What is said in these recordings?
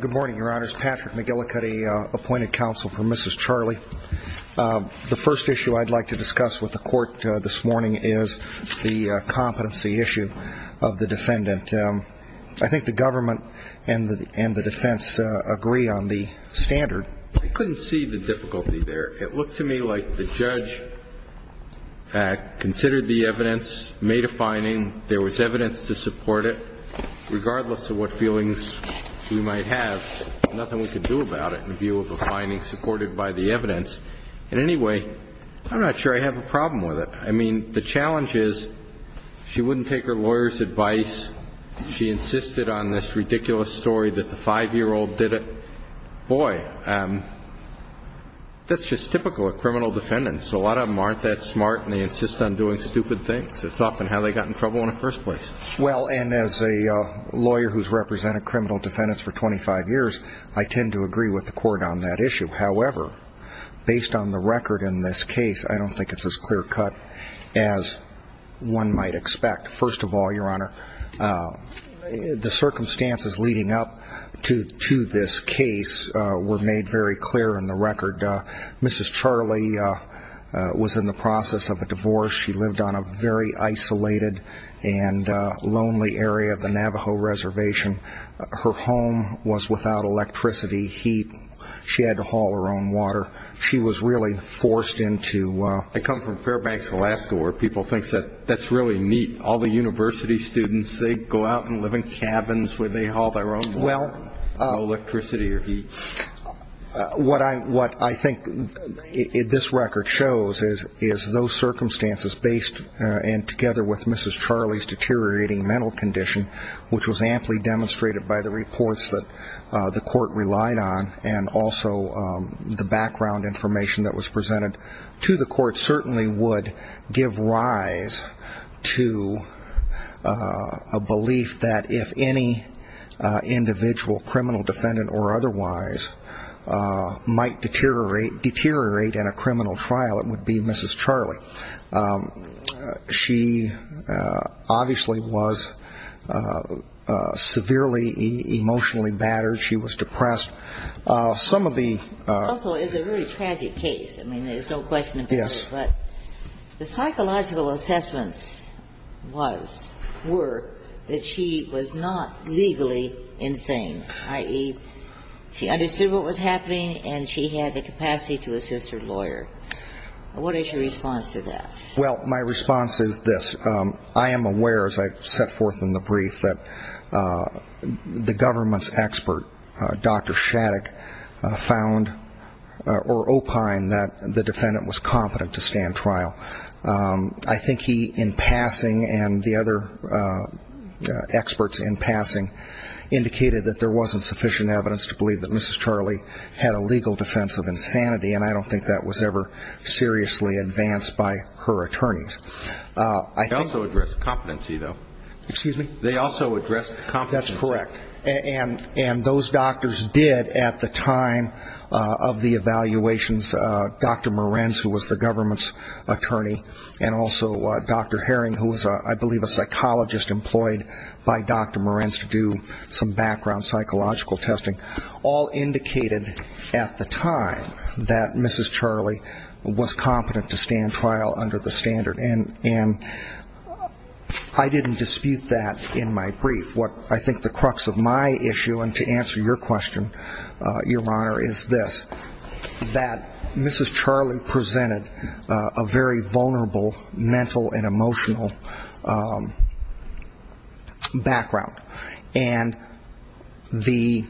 Good morning, your honors. Patrick McGillicuddy, appointed counsel for Mrs. Charley. The first issue I'd like to discuss with the court this morning is the competency issue of the defendant. I think the government and the defense agree on the standard. I couldn't see the difficulty there. It looked to me like the judge considered the evidence, made a finding, there was evidence to support it, regardless of what feelings we might have, nothing we could do about it in view of a finding supported by the evidence. In any way, I'm not sure I have a problem with it. I mean, the challenge is she wouldn't take her lawyer's advice. She insisted on this ridiculous story that the five-year-old did it. Boy, that's just typical of criminal defendants. A lot of them aren't that smart and they insist on doing stupid things. It's often how they got in trouble in the first place. Well, and as a lawyer who's represented criminal defendants for 25 years, I tend to agree with the court on that issue. However, based on the record in this case, I don't think it's as clear cut as one might expect. First of all, your honor, the circumstances leading up to this case were made very clear in the record. Mrs. Charley was in the process of a divorce. She lived on a very isolated and lonely area of the Navajo Reservation. Her home was without electricity, heat. She had to haul her own water. She was really forced into ---- I come from Fairbanks, Alaska, where people think that's really neat. All the university students, they go out and live in cabins where they haul their own water. No electricity or heat. What I think this record shows is those circumstances based and together with Mrs. Charley's deteriorating mental condition, which was amply demonstrated by the reports that the court relied on and also the background information that was presented to the court, certainly would give rise to a belief that if any individual, criminal defendant or otherwise, might deteriorate in a criminal trial, it would be Mrs. Charley. She obviously was severely emotionally battered. She was depressed. Some of the ---- It also is a very tragic case. I mean, there's no question about it. Yes. But the psychological assessments was, were, that she was not legally insane, i.e., she understood what was happening and she had the capacity to assist her lawyer. What is your response to that? Well, my response is this. I am aware, as I set forth in the brief, that the government's expert, Dr. Shattuck, found or opined that the defendant was competent to stand trial. I think he, in passing, and the other experts in passing, indicated that there wasn't sufficient evidence to believe that Mrs. Charley had a legal defense of insanity, and I don't think that was ever seriously advanced by her attorneys. They also addressed competency, though. Excuse me? They also addressed competency. That's correct. And those doctors did, at the time of the evaluations, Dr. Morenz, who was the government's attorney, and also Dr. Herring, who was, I believe, a psychologist employed by Dr. Morenz to do some background psychological testing, all indicated at the time that Mrs. Charley was competent to stand trial under the standard. And I didn't dispute that in my brief. What I think the crux of my issue, and to answer your question, Your Honor, is this, that Mrs. Charley presented a very vulnerable mental and emotional background, and the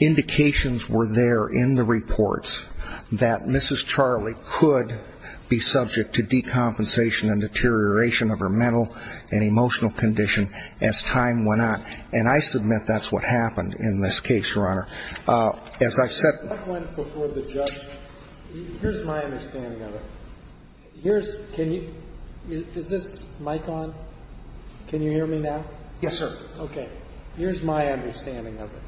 indications were there in the reports that Mrs. Charley could be subject to decompensation and deterioration of her mental and emotional condition as time went on. And I submit that's what happened in this case, Your Honor. As I've said before the judge, here's my understanding of it. Here's, can you, is this mic on? Can you hear me now? Yes, sir. Okay. Here's my understanding of it.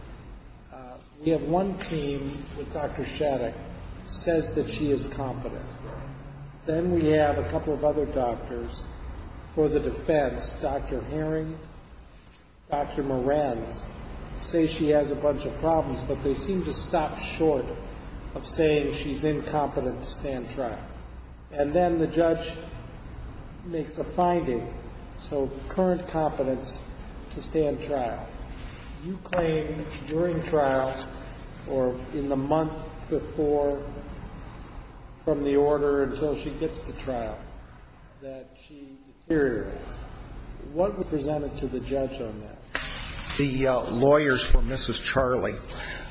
We have one team with Dr. Shattuck says that she is competent. Then we have a couple of other doctors for the defense, Dr. Herring, Dr. Morenz, say she has a bunch of problems, but they seem to stop short of saying she's incompetent to stand trial. And then the judge makes a finding, so current competence to stand trial. You claim during trial, or in the month before from the order until she gets to trial, that she deteriorates. What was presented to the judge on that? The lawyers for Mrs. Charley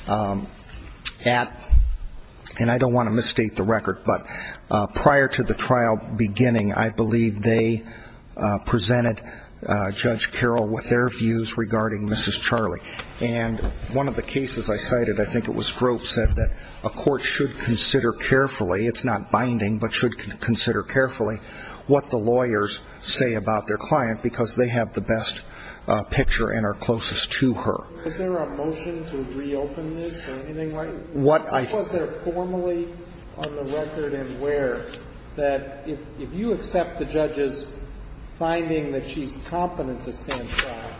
at, and I don't want to misstate the record, but prior to the trial beginning, I believe they presented Judge Carroll with their views regarding Mrs. Charley. And one of the cases I cited, I think it was Grove, said that a court should consider carefully, it's not binding, but should consider carefully what the lawyers say about their client, because they have the best picture and are closest to her. Is there a motion to reopen this or anything like that? What was there formally on the record and where, that if you accept the judge's finding that she's competent to stand trial,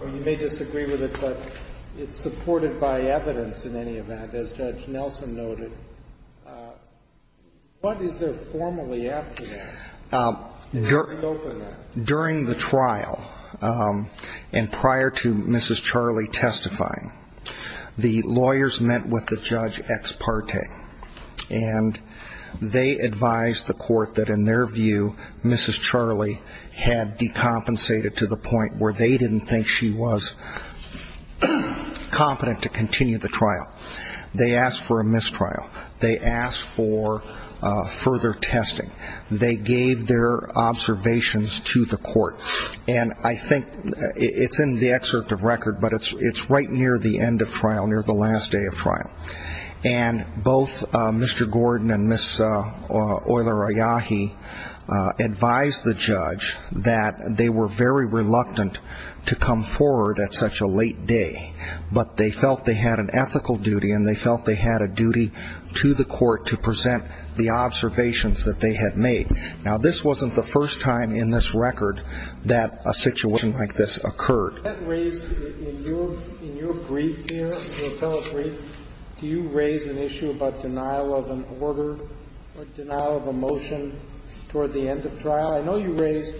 or you may disagree with it, but it's supported by evidence in any event, as Judge Nelson noted, what is there formally after that? During the trial and prior to Mrs. Charley testifying, the lawyers met with the judge ex parte, and they advised the court that in their view, Mrs. Charley had decompensated to the point where they didn't think she was competent to continue the trial. They asked for a mistrial. They asked for further testing. They gave their observations to the court. And I think it's in the excerpt of record, but it's right near the end of trial, near the last day of trial. And both Mr. Gordon and Ms. Oiler-Ayahi advised the judge that they were very reluctant to come forward at such a late day, but they felt they had an ethical duty and they felt they had a duty to the court to present the observations that they had made. Now, this wasn't the first time in this record that a situation like this occurred. In your brief here, your fellow brief, do you raise an issue about denial of an order or denial of a motion toward the end of trial? I know you raised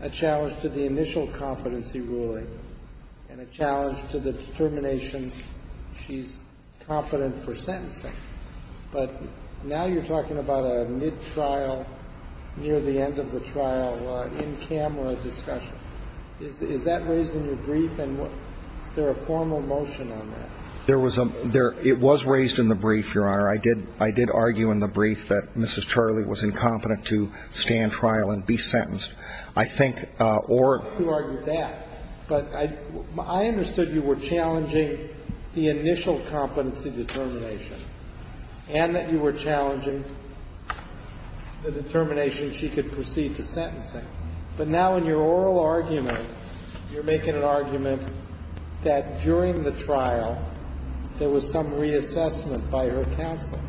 a challenge to the initial competency ruling and a challenge to the determination she's competent for sentencing. But now you're talking about a mid-trial, near the end of the trial, in-camera discussion. Is that raised in your brief? And is there a formal motion on that? There was a – it was raised in the brief, Your Honor. I did argue in the brief that Mrs. Charlie was incompetent to stand trial and be sentenced. I think – or – You argued that. But I understood you were challenging the initial competency determination. And that you were challenging the determination she could proceed to sentencing. But now in your oral argument, you're making an argument that during the trial, there was some reassessment by her counsel.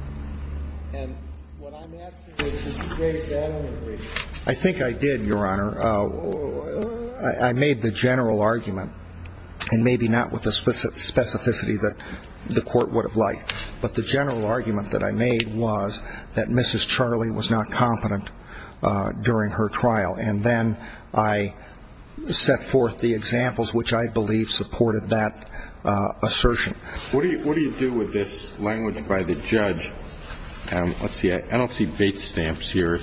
And what I'm asking is, did you raise that in the brief? I think I did, Your Honor. I made the general argument, and maybe not with the specificity that the court would have liked, but the general argument that I made was that Mrs. Charlie was not competent during her trial. And then I set forth the examples which I believe supported that assertion. What do you do with this language by the judge? Let's see. I don't see bait stamps here.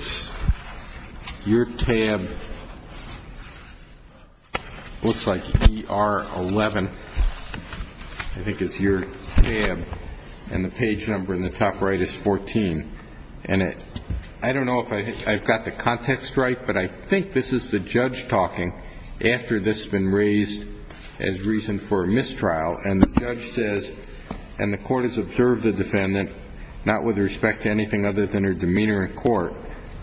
Your tab looks like ER11. I think it's your tab. And the page number in the top right is 14. And I don't know if I've got the context right, but I think this is the judge talking after this has been raised as reason for mistrial. And the judge says, and the court has observed the defendant, not with respect to other than her demeanor in court,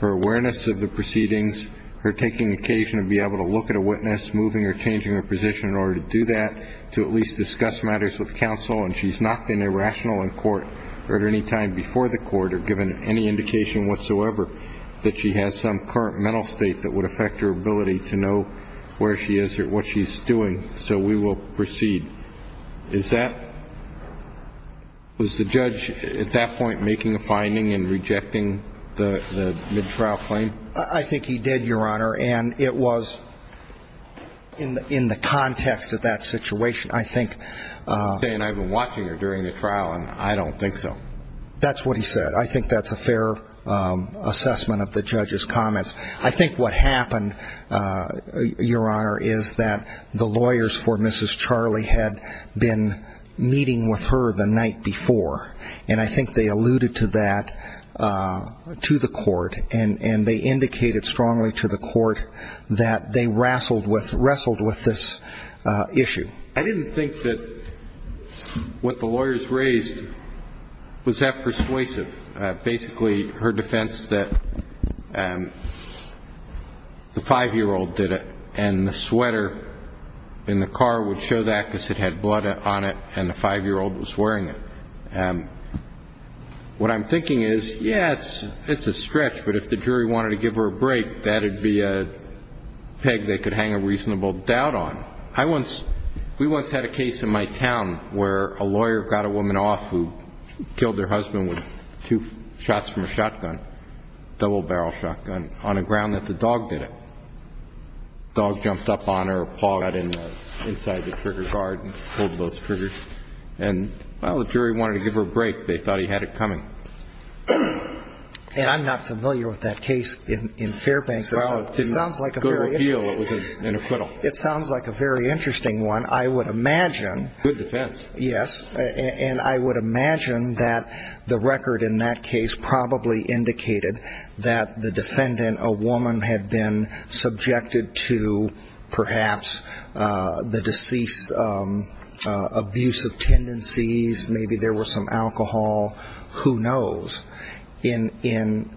her awareness of the proceedings, her taking occasion to be able to look at a witness, moving or changing her position in order to do that, to at least discuss matters with counsel. And she's not been irrational in court or at any time before the court or given any indication whatsoever that she has some current mental state that would affect her ability to know where she is or what she's doing. So we will proceed. Was the judge at that point making a finding and rejecting the mid-trial claim? I think he did, Your Honor. And it was in the context of that situation, I think. You're saying I've been watching her during the trial, and I don't think so. That's what he said. I think that's a fair assessment of the judge's comments. I think what happened, Your Honor, is that the lawyers for Mrs. Charlie had been meeting with her the night before. And I think they alluded to that to the court, and they indicated strongly to the court that they wrestled with this issue. I didn't think that what the lawyers raised was that persuasive, basically her defense that the 5-year-old did it and the sweater in the car would show that because it had blood on it and the 5-year-old was wearing it. What I'm thinking is, yes, it's a stretch, but if the jury wanted to give her a break, that would be a peg they could hang a reasonable doubt on. We once had a case in my town where a lawyer got a woman off who killed her husband with two shots from a shotgun, a double-barrel shotgun, on a ground that the dog did it. The dog jumped up on her. Paul got inside the trigger guard and pulled both triggers. And, well, the jury wanted to give her a break. They thought he had it coming. And I'm not familiar with that case in Fairbanks. Well, to good appeal, it was an acquittal. It sounds like a very interesting one. I would imagine. Good defense. Yes, and I would imagine that the record in that case probably indicated that the defendant, a woman, had been subjected to perhaps the deceased's abusive tendencies. Maybe there was some alcohol. Who knows? In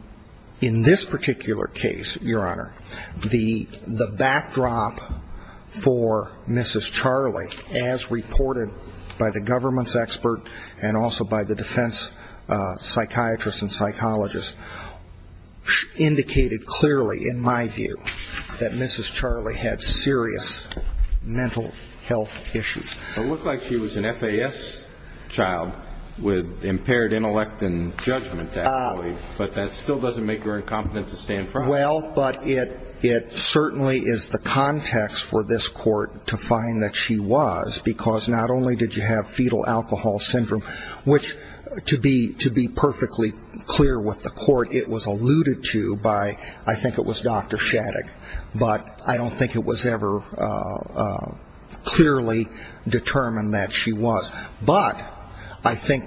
this particular case, Your Honor, the backdrop for Mrs. Charlie, as reported by the government's expert and also by the defense psychiatrist and psychologist, indicated clearly, in my view, that Mrs. Charlie had serious mental health issues. Well, it looked like she was an FAS child with impaired intellect and judgment, actually. But that still doesn't make her incompetent to stand front. Well, but it certainly is the context for this court to find that she was, because not only did you have fetal alcohol syndrome, which, to be perfectly clear with the court, it was alluded to by, I think it was Dr. Shattuck, but I don't think it was ever clearly determined that she was. But I think,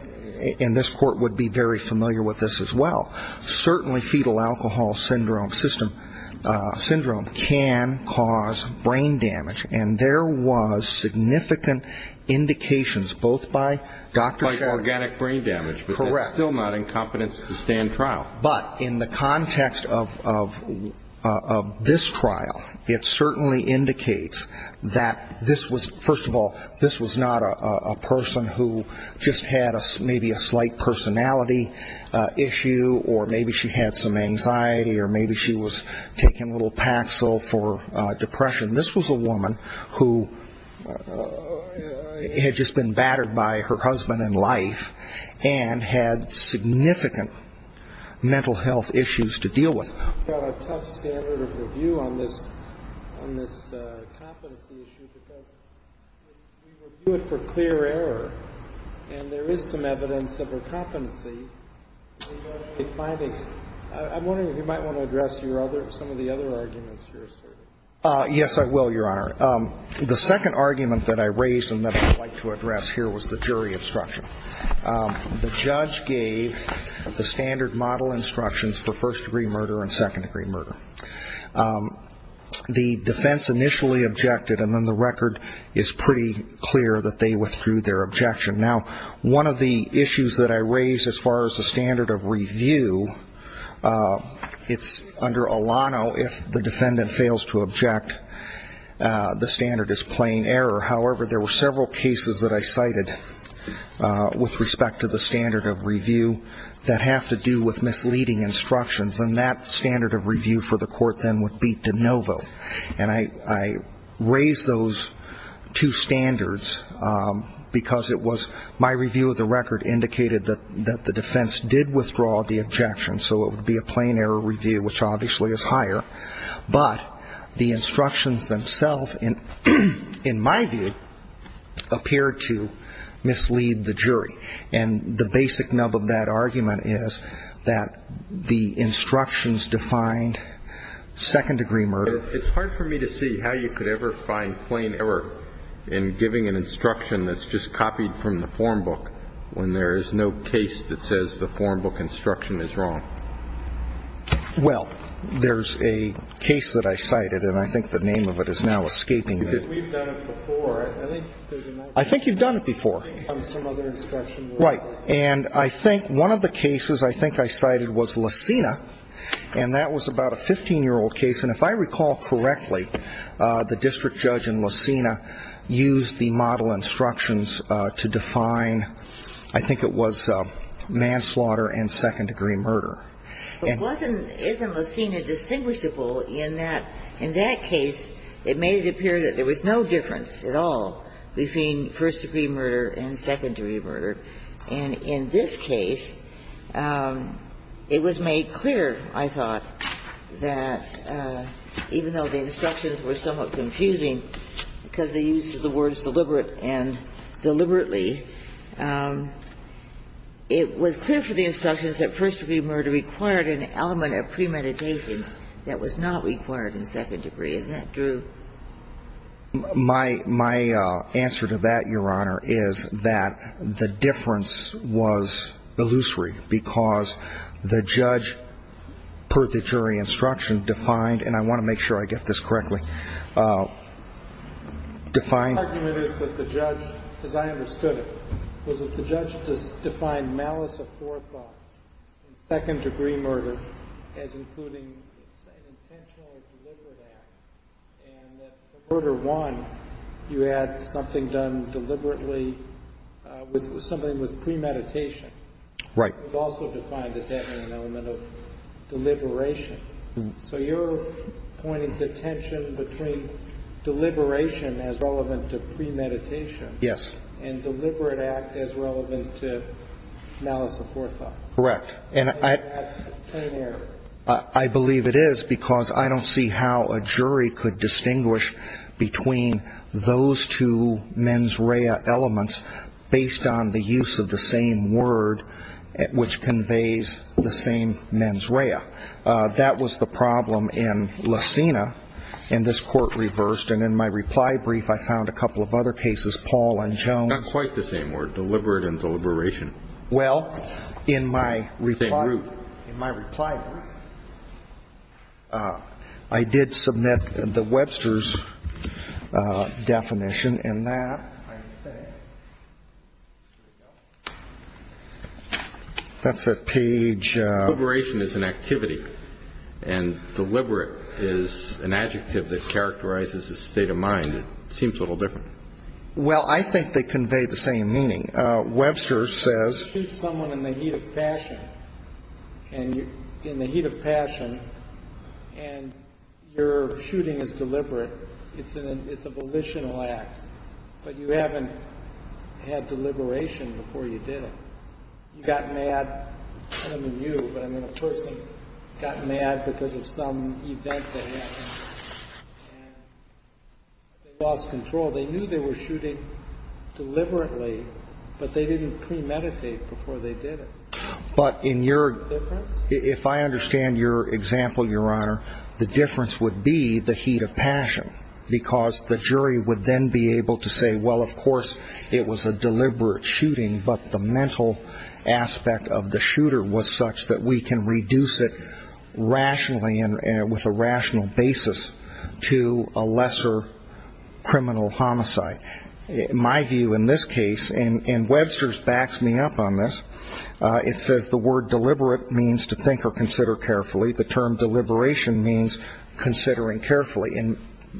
and this court would be very familiar with this as well, certainly fetal alcohol syndrome can cause brain damage. And there was significant indications both by Dr. Shattuck. Like organic brain damage. Correct. But that's still not incompetent to stand trial. But in the context of this trial, it certainly indicates that this was, first of all, this was not a person who just had maybe a slight personality issue or maybe she had some anxiety or maybe she was taking a little Paxil for depression. This was a woman who had just been battered by her husband in life and had significant mental health issues to deal with. We've got a tough standard of review on this competency issue because we review it for clear error. And there is some evidence of her competency. I'm wondering if you might want to address some of the other arguments you're asserting. Yes, I will, Your Honor. The second argument that I raised and that I'd like to address here was the jury instruction. The judge gave the standard model instructions for first-degree murder and second-degree murder. The defense initially objected, and then the record is pretty clear that they withdrew their objection. Now, one of the issues that I raised as far as the standard of review, it's under Alano if the defendant fails to object, the standard is plain error. However, there were several cases that I cited with respect to the standard of review that have to do with misleading instructions, and that standard of review for the court then would be de novo. And I raised those two standards because it was my review of the record indicated that the defense did withdraw the objection, so it would be a plain error review, which obviously is higher. But the instructions themselves, in my view, appear to mislead the jury. And the basic nub of that argument is that the instructions defined second-degree murder. It's hard for me to see how you could ever find plain error in giving an instruction that's just copied from the form book when there is no case that says the form book instruction is wrong. Well, there's a case that I cited, and I think the name of it is now escaping me. We've done it before. I think you've done it before. Right. And I think one of the cases I think I cited was Lacina, and that was about a 15-year-old case. And if I recall correctly, the district judge in Lacina used the model instructions to define, I think it was, manslaughter and second-degree murder. But isn't Lacina distinguishable in that case it made it appear that there was no difference at all between first-degree murder and second-degree murder? And in this case, it was made clear, I thought, that even though the instructions were somewhat confusing because they used the words deliberate and deliberately, it was clear from the instructions that first-degree murder required an element of premeditation that was not required in second-degree. Isn't that true? My answer to that, Your Honor, is that the difference was illusory because the judge, per the jury instruction, defined, and I want to make sure I get this correctly, defined. My argument is that the judge, as I understood it, was that the judge defined malice of forethought in second-degree murder as including an intentionally deliberate act, and that for murder one, you had something done deliberately with something with premeditation. Right. It was also defined as having an element of deliberation. So you're pointing to tension between deliberation as relevant to premeditation. Yes. And deliberate act as relevant to malice of forethought. Correct. And that's a clear error. I believe it is because I don't see how a jury could distinguish between those two mens rea elements based on the use of the same word, which conveys the same mens rea. That was the problem in Lacina, and this Court reversed. And in my reply brief, I found a couple of other cases, Paul and Jones. Not quite the same word, deliberate and deliberation. Well, in my reply brief, I did submit the Webster's definition, and that, that's a page. Well, I think they convey the same meaning. Webster says. If you shoot someone in the heat of passion, and you're in the heat of passion, and your shooting is deliberate, it's a volitional act, but you haven't had deliberation before you did it. I mean, a person got mad because of some event they had, and they lost control. They knew they were shooting deliberately, but they didn't premeditate before they did it. But if I understand your example, Your Honor, the difference would be the heat of passion, because the jury would then be able to say, well, of course, it was a deliberate shooting, but the mental aspect of the shooter was such that we can reduce it rationally and with a rational basis to a lesser criminal homicide. My view in this case, and Webster's backs me up on this, it says the word deliberate means to think or consider carefully. The term deliberation means considering carefully.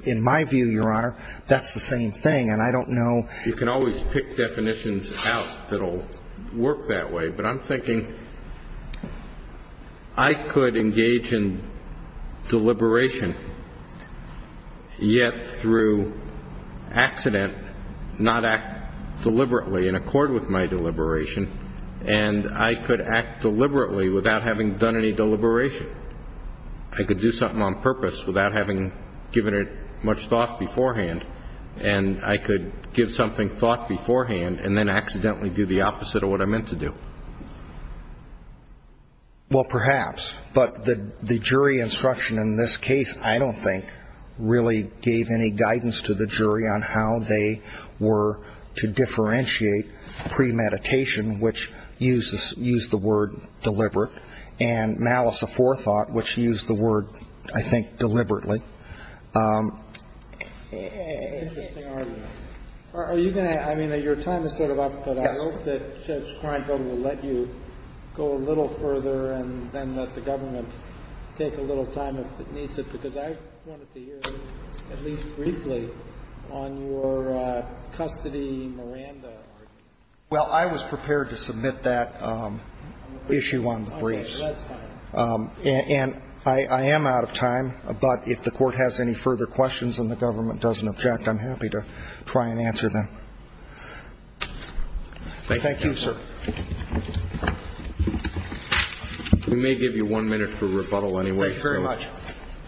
In my view, Your Honor, that's the same thing, and I don't know. You can always pick definitions out that will work that way, but I'm thinking I could engage in deliberation, yet through accident not act deliberately in accord with my deliberation, and I could act deliberately without having done any deliberation. I could do something on purpose without having given it much thought beforehand, and I could give something thought beforehand and then accidentally do the opposite of what I meant to do. Well, perhaps, but the jury instruction in this case, I don't think, really gave any guidance to the jury on how they were to differentiate premeditation, which used the word deliberate, and malice aforethought, which used the word, I think, deliberately. Interesting argument. Are you going to – I mean, your time is sort of up, but I hope that Judge Kreinfeld will let you go a little further and then let the government take a little time if it needs it, because I wanted to hear at least briefly on your custody Miranda argument. Well, I was prepared to submit that issue on the briefs. Okay. That's fine. And I am out of time, but if the Court has any further questions and the government doesn't object, I'm happy to try and answer them. Thank you, sir. We may give you one minute for rebuttal anyway. Thank you very much.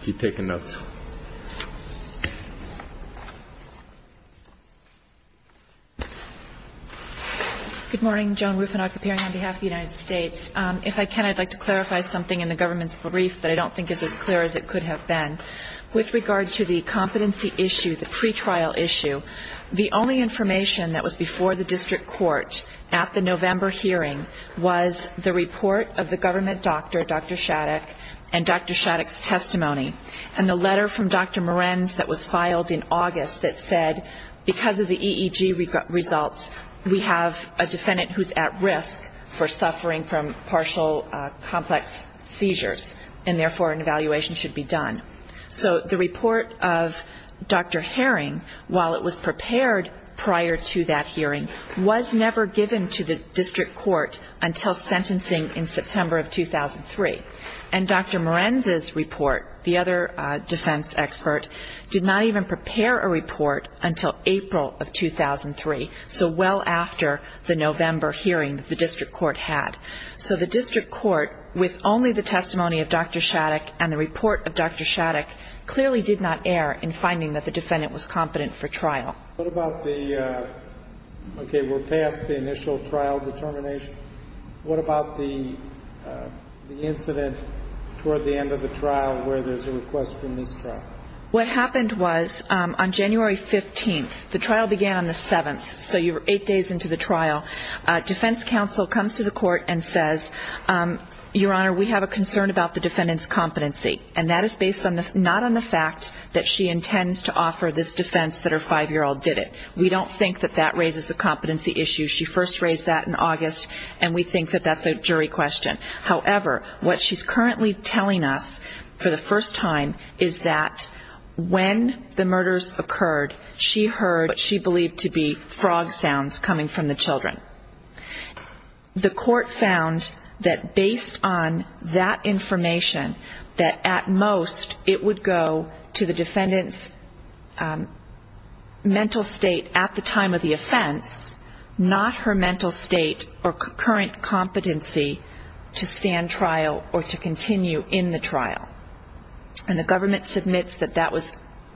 Keep taking notes. Good morning. Joan Rufinog, appearing on behalf of the United States. If I can, I'd like to clarify something in the government's brief that I don't think is as clear as it could have been. With regard to the competency issue, the pretrial issue, the only information that was before the district court at the November hearing was the report of the government doctor, Dr. Shattuck, and Dr. Shattuck's testimony, and the letter from Dr. Morens that was filed in August that said because of the EEG results, we have a defendant who's at risk for suffering from partial complex seizures, and therefore an evaluation should be done. So the report of Dr. Herring, while it was prepared prior to that hearing, was never given to the district court until sentencing in September of 2003. And Dr. Morens' report, the other defense expert, did not even prepare a report until April of 2003. So well after the November hearing that the district court had. So the district court, with only the testimony of Dr. Shattuck and the report of Dr. Shattuck, clearly did not err in finding that the defendant was competent for trial. What about the, okay, we're past the initial trial determination. What about the incident toward the end of the trial where there's a request for mistrial? What happened was on January 15th, the trial began on the 7th, so you're eight days into the trial, defense counsel comes to the court and says, Your Honor, we have a concern about the defendant's competency. And that is based not on the fact that she intends to offer this defense that her five-year-old did it. We don't think that that raises a competency issue. She first raised that in August, and we think that that's a jury question. However, what she's currently telling us for the first time is that when the murders occurred, she heard what she believed to be frog sounds coming from the children. The court found that based on that information, that at most it would go to the defendant's mental state at the time of the offense, not her mental state or current competency to stand trial or to continue in the trial. And the government submits that that was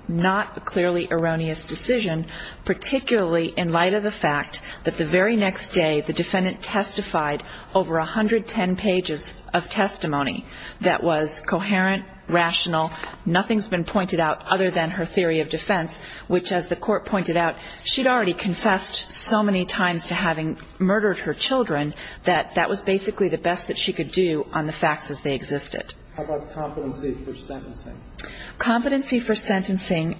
not a clearly erroneous decision, particularly in light of the fact that the very next day the defendant testified over 110 pages of testimony that was coherent, rational, nothing's been pointed out other than her theory of defense, which as the court pointed out, she'd already confessed so many times to having murdered her children that that was basically the best that she could do on the facts as they existed. How about competency for sentencing? Competency for sentencing,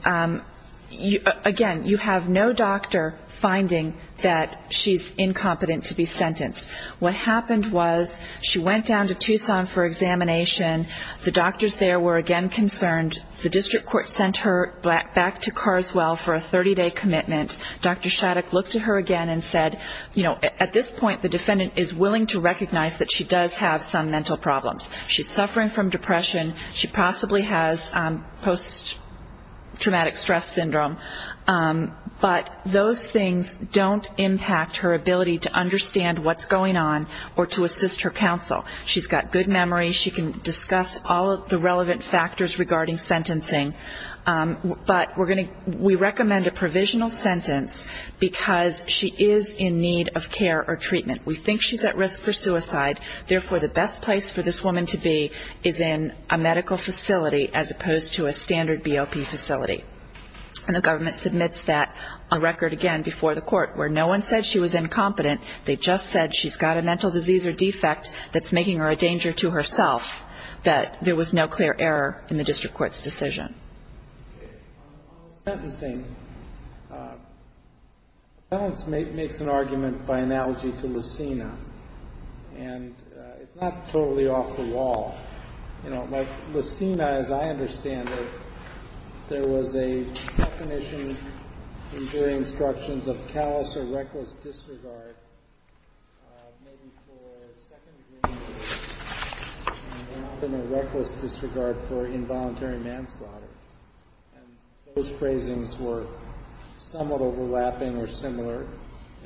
again, you have no doctor finding that she's incompetent to be sentenced. What happened was she went down to Tucson for examination. The doctors there were again concerned. The district court sent her back to Carswell for a 30-day commitment. Dr. Shattuck looked at her again and said, you know, at this point the defendant is willing to recognize that she does have some mental problems. She's suffering from depression. She possibly has post-traumatic stress syndrome. But those things don't impact her ability to understand what's going on or to assist her counsel. She's got good memory. She can discuss all of the relevant factors regarding sentencing. But we're going to we recommend a provisional sentence because she is in need of care or treatment. We think she's at risk for suicide. Therefore, the best place for this woman to be is in a medical facility as opposed to a standard BOP facility. And the government submits that on record again before the court where no one said she was incompetent. They just said she's got a mental disease or defect that's making her a danger to herself, that there was no clear error in the district court's decision. On the sentencing, the defense makes an argument by analogy to Lucina. And it's not totally off the wall. You know, like Lucina, as I understand it, there was a definition in jury instructions of callous or reckless disregard maybe for second degree injuries. And often a reckless disregard for involuntary manslaughter. And those phrasings were somewhat overlapping or similar.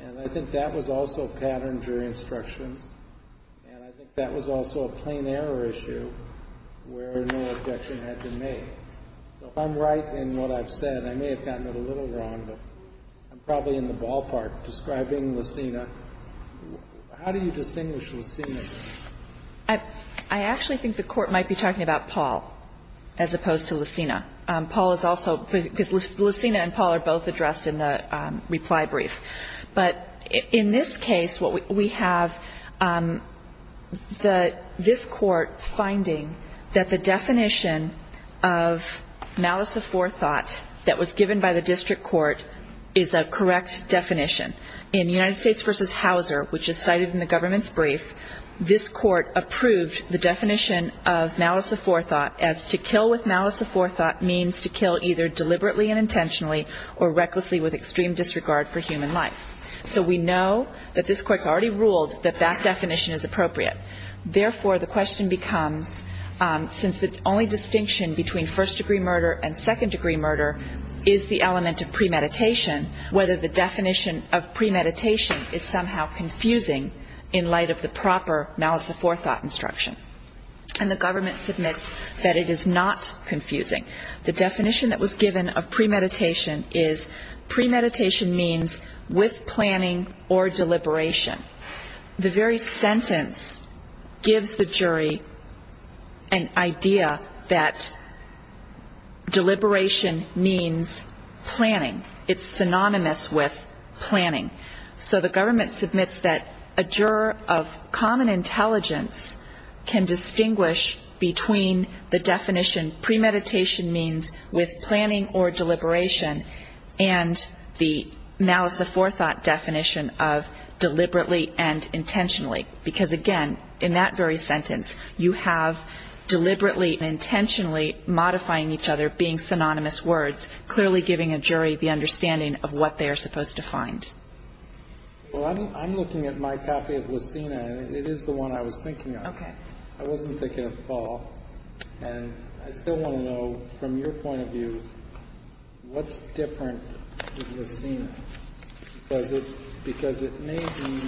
And I think that was also patterned jury instructions. And I think that was also a plain error issue where no objection had been made. So if I'm right in what I've said, I may have gotten it a little wrong, but I'm probably in the ballpark describing Lucina. How do you distinguish Lucina? I actually think the Court might be talking about Paul as opposed to Lucina. Paul is also – because Lucina and Paul are both addressed in the reply brief. But in this case, what we have, this Court finding that the definition of malice of forethought that was given by the district court is a correct definition. In United States v. Hauser, which is cited in the government's brief, this Court approved the definition of malice of forethought as to kill with malice of forethought means to kill either deliberately and intentionally or recklessly with extreme disregard for human life. So we know that this Court's already ruled that that definition is appropriate. Therefore, the question becomes, since the only distinction between first degree murder and second degree murder is the element of premeditation, whether the definition of premeditation is somehow confusing in light of the proper malice of forethought instruction. And the government submits that it is not confusing. The definition that was given of premeditation is premeditation means with planning or deliberation. The very sentence gives the jury an idea that deliberation means planning. It's synonymous with planning. So the government submits that a juror of common intelligence can distinguish between the definition premeditation means with planning or deliberation and the malice of forethought definition of deliberately and intentionally. Because, again, in that very sentence, you have deliberately and intentionally modifying each other, being synonymous words, clearly giving a jury the understanding of what they are supposed to find. Well, I'm looking at my copy of Lucina, and it is the one I was thinking of. Okay. I wasn't thinking of Paul. And I still want to know, from your point of view, what's different with Lucina? Because it may be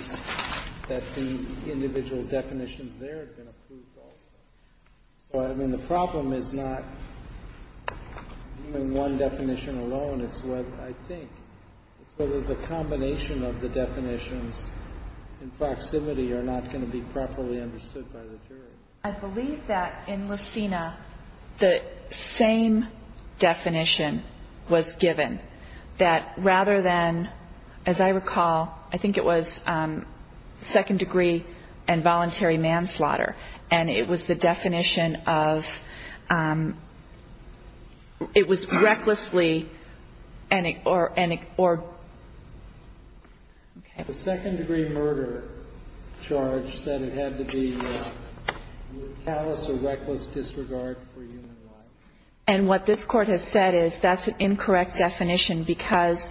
that the individual definitions there have been approved also. So, I mean, the problem is not even one definition alone. It's what I think. It's whether the combination of the definitions in proximity are not going to be properly understood by the jury. I believe that in Lucina the same definition was given, that rather than, as I recall, I think it was second degree and voluntary manslaughter. And it was the definition of it was recklessly or. Okay. The second degree murder charge said it had to be callous or reckless disregard for human life. And what this Court has said is that's an incorrect definition because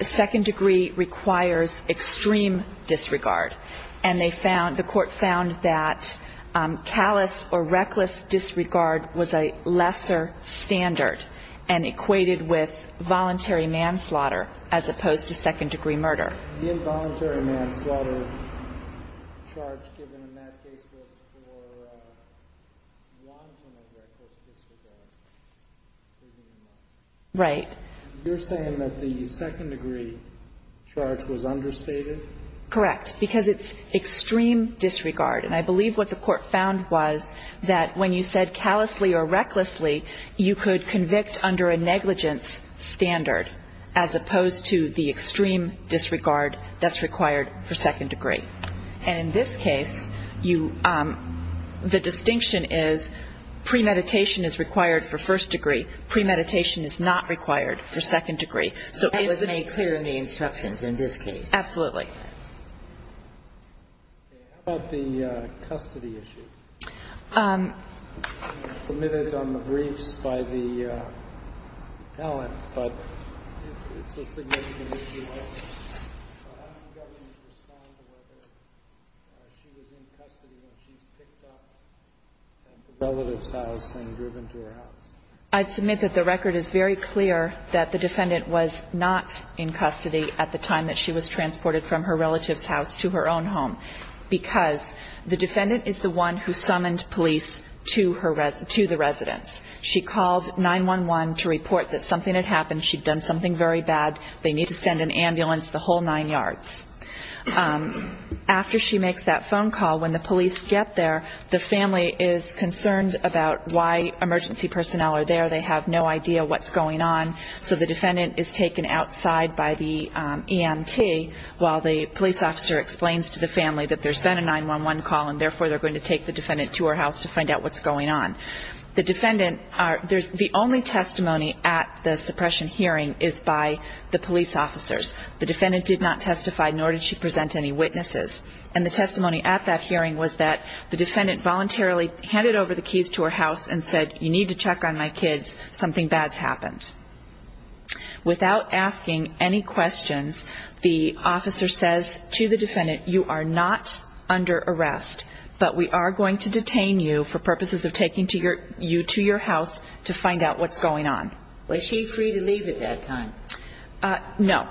second degree requires extreme disregard. And they found, the Court found that callous or reckless disregard was a lesser standard and equated with voluntary manslaughter as opposed to second degree murder. The involuntary manslaughter charge given in that case was for wanton or reckless disregard. Right. You're saying that the second degree charge was understated? Correct, because it's extreme disregard. And I believe what the Court found was that when you said callously or recklessly, you could convict under a negligence standard as opposed to the extreme disregard that's required for second degree. And in this case, the distinction is premeditation is required for first degree. Premeditation is not required for second degree. So it was made clear in the instructions in this case. Absolutely. Okay. How about the custody issue? It was submitted on the briefs by the appellant, but it's a significant issue. How did the government respond to whether she was in custody when she was picked up at the relative's house and driven to her house? I'd submit that the record is very clear that the defendant was not in custody at the time that she was transported from her relative's house to her own home because the defendant is the one who summoned police to the residence. She called 911 to report that something had happened. She'd done something very bad. They need to send an ambulance the whole nine yards. After she makes that phone call, when the police get there, the family is concerned about why emergency personnel are there. They have no idea what's going on. So the defendant is taken outside by the EMT, while the police officer explains to the family that there's been a 911 call, and therefore they're going to take the defendant to her house to find out what's going on. The only testimony at the suppression hearing is by the police officers. The defendant did not testify, nor did she present any witnesses. And the testimony at that hearing was that the defendant voluntarily handed over the keys to her house and said, you need to check on my kids. Something bad's happened. Without asking any questions, the officer says to the defendant, you are not under arrest, but we are going to detain you for purposes of taking you to your house to find out what's going on. Was she free to leave at that time? No.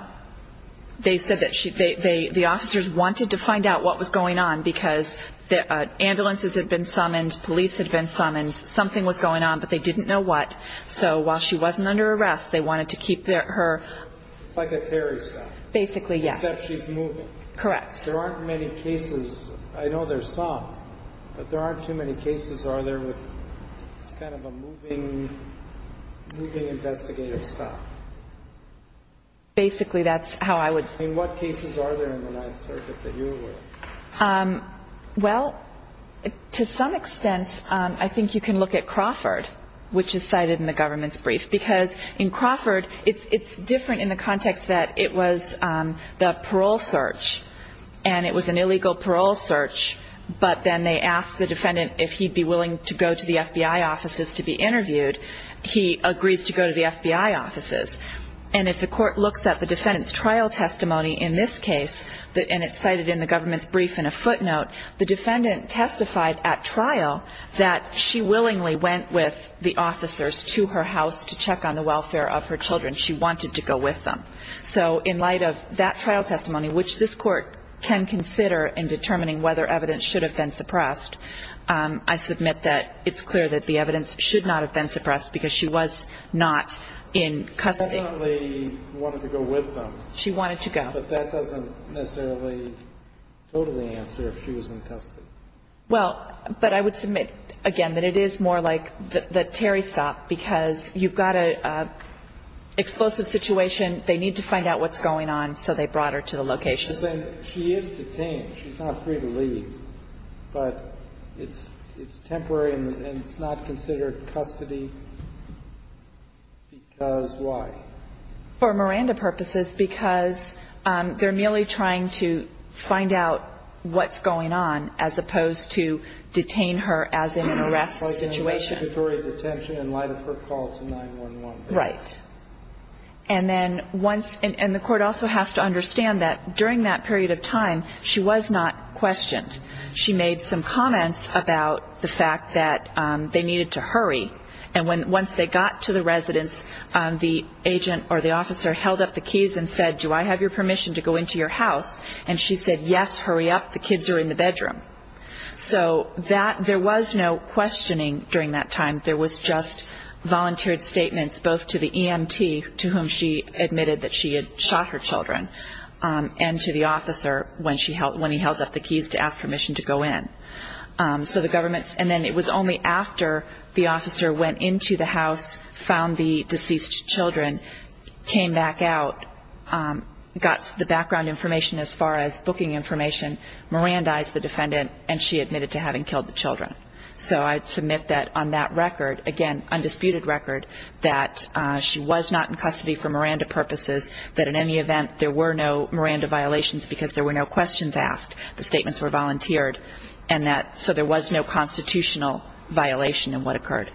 They said that the officers wanted to find out what was going on because ambulances had been summoned, police had been summoned, something was going on, but they didn't know what. So while she wasn't under arrest, they wanted to keep her. It's like a Terry stop. Basically, yes. Except she's moving. Correct. There aren't many cases. I know there's some, but there aren't too many cases. It's kind of a moving investigative stop. Basically, that's how I would say. What cases are there in the Ninth Circuit that you're aware of? Well, to some extent, I think you can look at Crawford, which is cited in the government's brief, because in Crawford, it's different in the context that it was the parole search, and it was an illegal parole search, but then they asked the defendant if he'd be willing to go to the FBI offices to be interviewed. He agrees to go to the FBI offices. And if the court looks at the defendant's trial testimony in this case, and it's cited in the government's brief in a footnote, the defendant testified at trial that she willingly went with the officers to her house to check on the welfare of her children. She wanted to go with them. So in light of that trial testimony, which this Court can consider in determining whether evidence should have been suppressed, I submit that it's clear that the evidence should not have been suppressed, because she was not in custody. She definitely wanted to go with them. She wanted to go. But that doesn't necessarily go to the answer if she was in custody. Well, but I would submit, again, that it is more like the Terry stop, because you've got an explosive situation, they need to find out what's going on, so they brought her to the location. She is detained. She's not free to leave. But it's temporary, and it's not considered custody, because why? For Miranda purposes, because they're merely trying to find out what's going on, as opposed to detain her as in an arrest situation. In light of her call to 911. Right. And then once the Court also has to understand that during that period of time, she was not questioned. She made some comments about the fact that they needed to hurry. And once they got to the residence, the agent or the officer held up the keys and said, do I have your permission to go into your house? And she said, yes, hurry up, the kids are in the bedroom. So there was no questioning during that time. There was just volunteered statements both to the EMT, to whom she admitted that she had shot her children, and to the officer when he held up the keys to ask permission to go in. And then it was only after the officer went into the house, found the deceased children, came back out, got the background information as far as booking information, Mirandized the defendant, and she admitted to having killed the children. So I'd submit that on that record, again, undisputed record, that she was not in custody for Miranda purposes, that in any event there were no Miranda violations because there were no questions asked. The statements were volunteered. And so there was no constitutional violation in what occurred.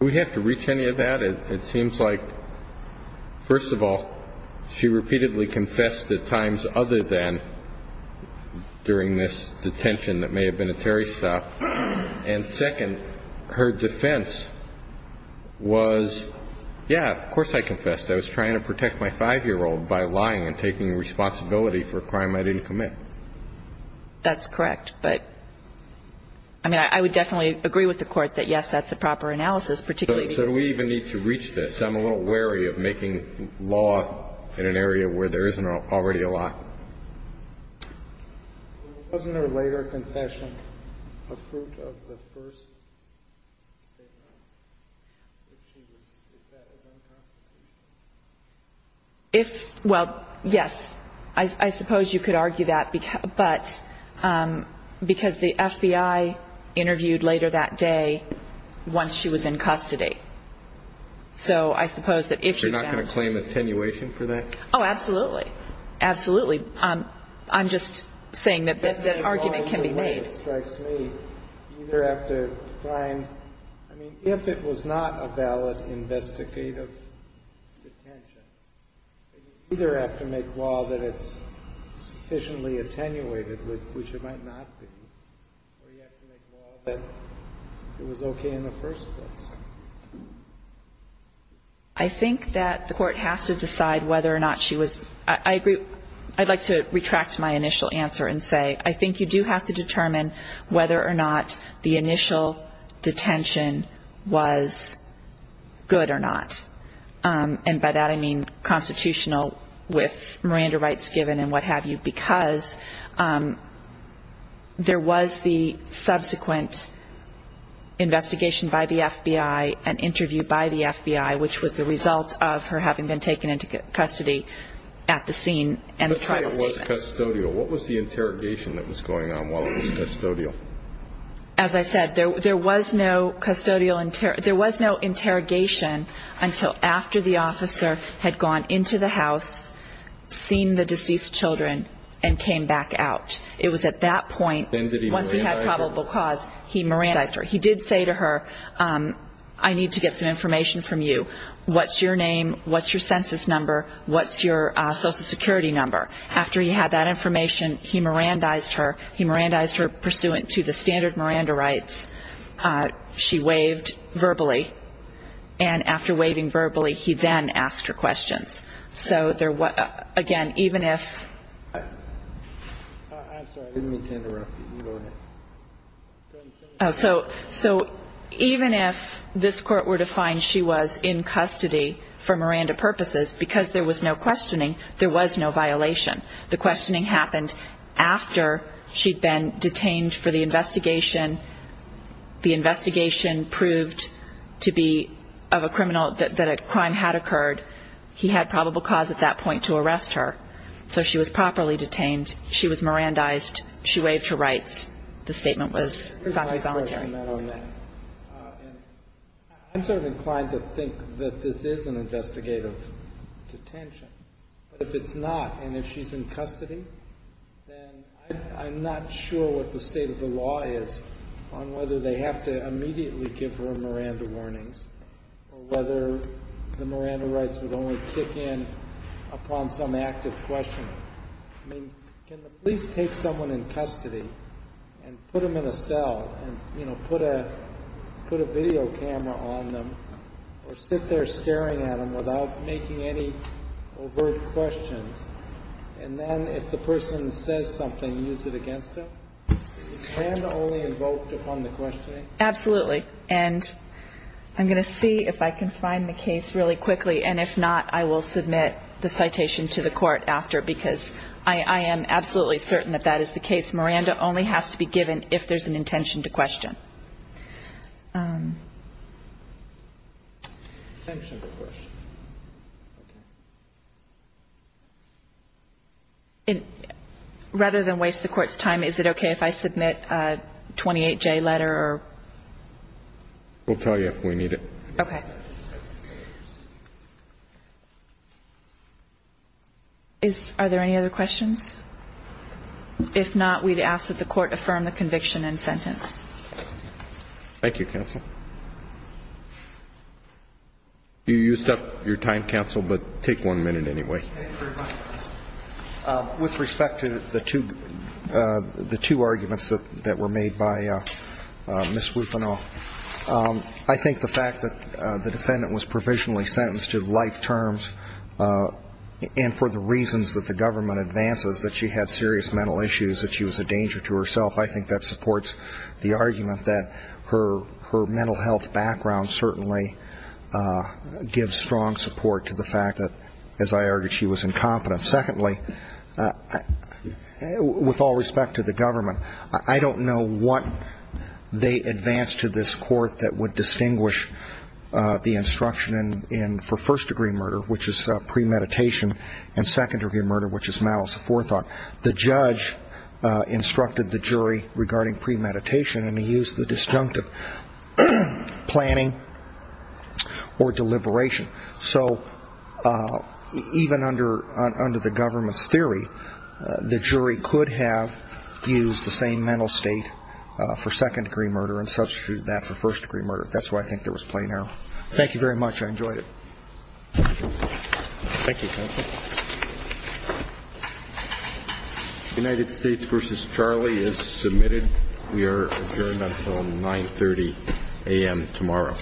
Do we have to reach any of that? It seems like, first of all, she repeatedly confessed at times other than during this detention that may have been a Terry stop. And, second, her defense was, yeah, of course I confessed. I was trying to protect my 5-year-old by lying and taking responsibility for a crime I didn't commit. That's correct. But, I mean, I would definitely agree with the Court that, yes, that's the proper analysis. So do we even need to reach this? I'm a little wary of making law in an area where there isn't already a law. Wasn't her later confession a fruit of the first statement? Is that as unconstitutional? Well, yes. I suppose you could argue that. But because the FBI interviewed later that day once she was in custody. So I suppose that if she then ---- You're not going to claim attenuation for that? Oh, absolutely. Absolutely. I'm just saying that that argument can be made. That's the law in the way it strikes me. You either have to find, I mean, if it was not a valid investigative detention, then you either have to make law that it's sufficiently attenuated, which it might not be, or you have to make law that it was okay in the first place. I think that the Court has to decide whether or not she was ---- I agree. I'd like to retract my initial answer and say I think you do have to determine whether or not the initial detention was good or not. And by that I mean constitutional with Miranda rights given and what have you, because there was the subsequent investigation by the FBI, an interview by the FBI, which was the result of her having been taken into custody at the scene. And the trial was custodial. What was the interrogation that was going on while it was custodial? As I said, there was no interrogation until after the officer had gone into the house, seen the deceased children, and came back out. It was at that point, once he had probable cause, he Mirandized her. He did say to her, I need to get some information from you. What's your name? What's your census number? What's your Social Security number? After he had that information, he Mirandized her. He Mirandized her pursuant to the standard Miranda rights. She waved verbally. And after waving verbally, he then asked her questions. So, again, even if so, even if this court were to find she was in custody for Miranda purposes, because there was no questioning, there was no violation. The questioning happened after she'd been detained for the investigation. The investigation proved to be of a criminal that a crime had occurred. He had probable cause at that point to arrest her. So she was properly detained. She was Mirandized. She waved her rights. The statement was voluntary. I'm sort of inclined to think that this is an investigative detention. But if it's not, and if she's in custody, then I'm not sure what the state of the law is on whether they have to immediately give her Miranda warnings or whether the Miranda rights would only kick in upon some active questioning. I mean, can the police take someone in custody and put them in a cell and, you know, put a video camera on them or sit there staring at them without making any overt questions, and then if the person says something, use it against them? Is Miranda only invoked upon the questioning? Absolutely. And I'm going to see if I can find the case really quickly. And if not, I will submit the citation to the court after, because I am absolutely certain that that is the case. Miranda only has to be given if there's an intention to question. Rather than waste the Court's time, is it okay if I submit a 28-J letter or? We'll tell you if we need it. Okay. Are there any other questions? If not, we'd ask that the Court affirm the conviction and sentence. Thank you, counsel. You used up your time, counsel, but take one minute anyway. Thank you very much. With respect to the two arguments that were made by Ms. Wufenau, I think the fact that the defendant was provisionally sentenced to life terms and for the reasons that the government advances, that she had serious mental issues, that she was a danger to herself, I think that supports the argument that her mental health background certainly gives strong support to the fact that, as I argued, she was incompetent. Secondly, with all respect to the government, I don't know what they advanced to this Court that would distinguish the instruction for first-degree murder, which is premeditation, and second-degree murder, which is malice aforethought. The judge instructed the jury regarding premeditation, and he used the disjunctive planning or deliberation. So even under the government's theory, the jury could have used the same mental state for second-degree murder and substituted that for first-degree murder. That's why I think there was plain error. Thank you very much. I enjoyed it. Thank you, counsel. United States v. Charlie is submitted. We are adjourned until 9.30 a.m. tomorrow. Thank you.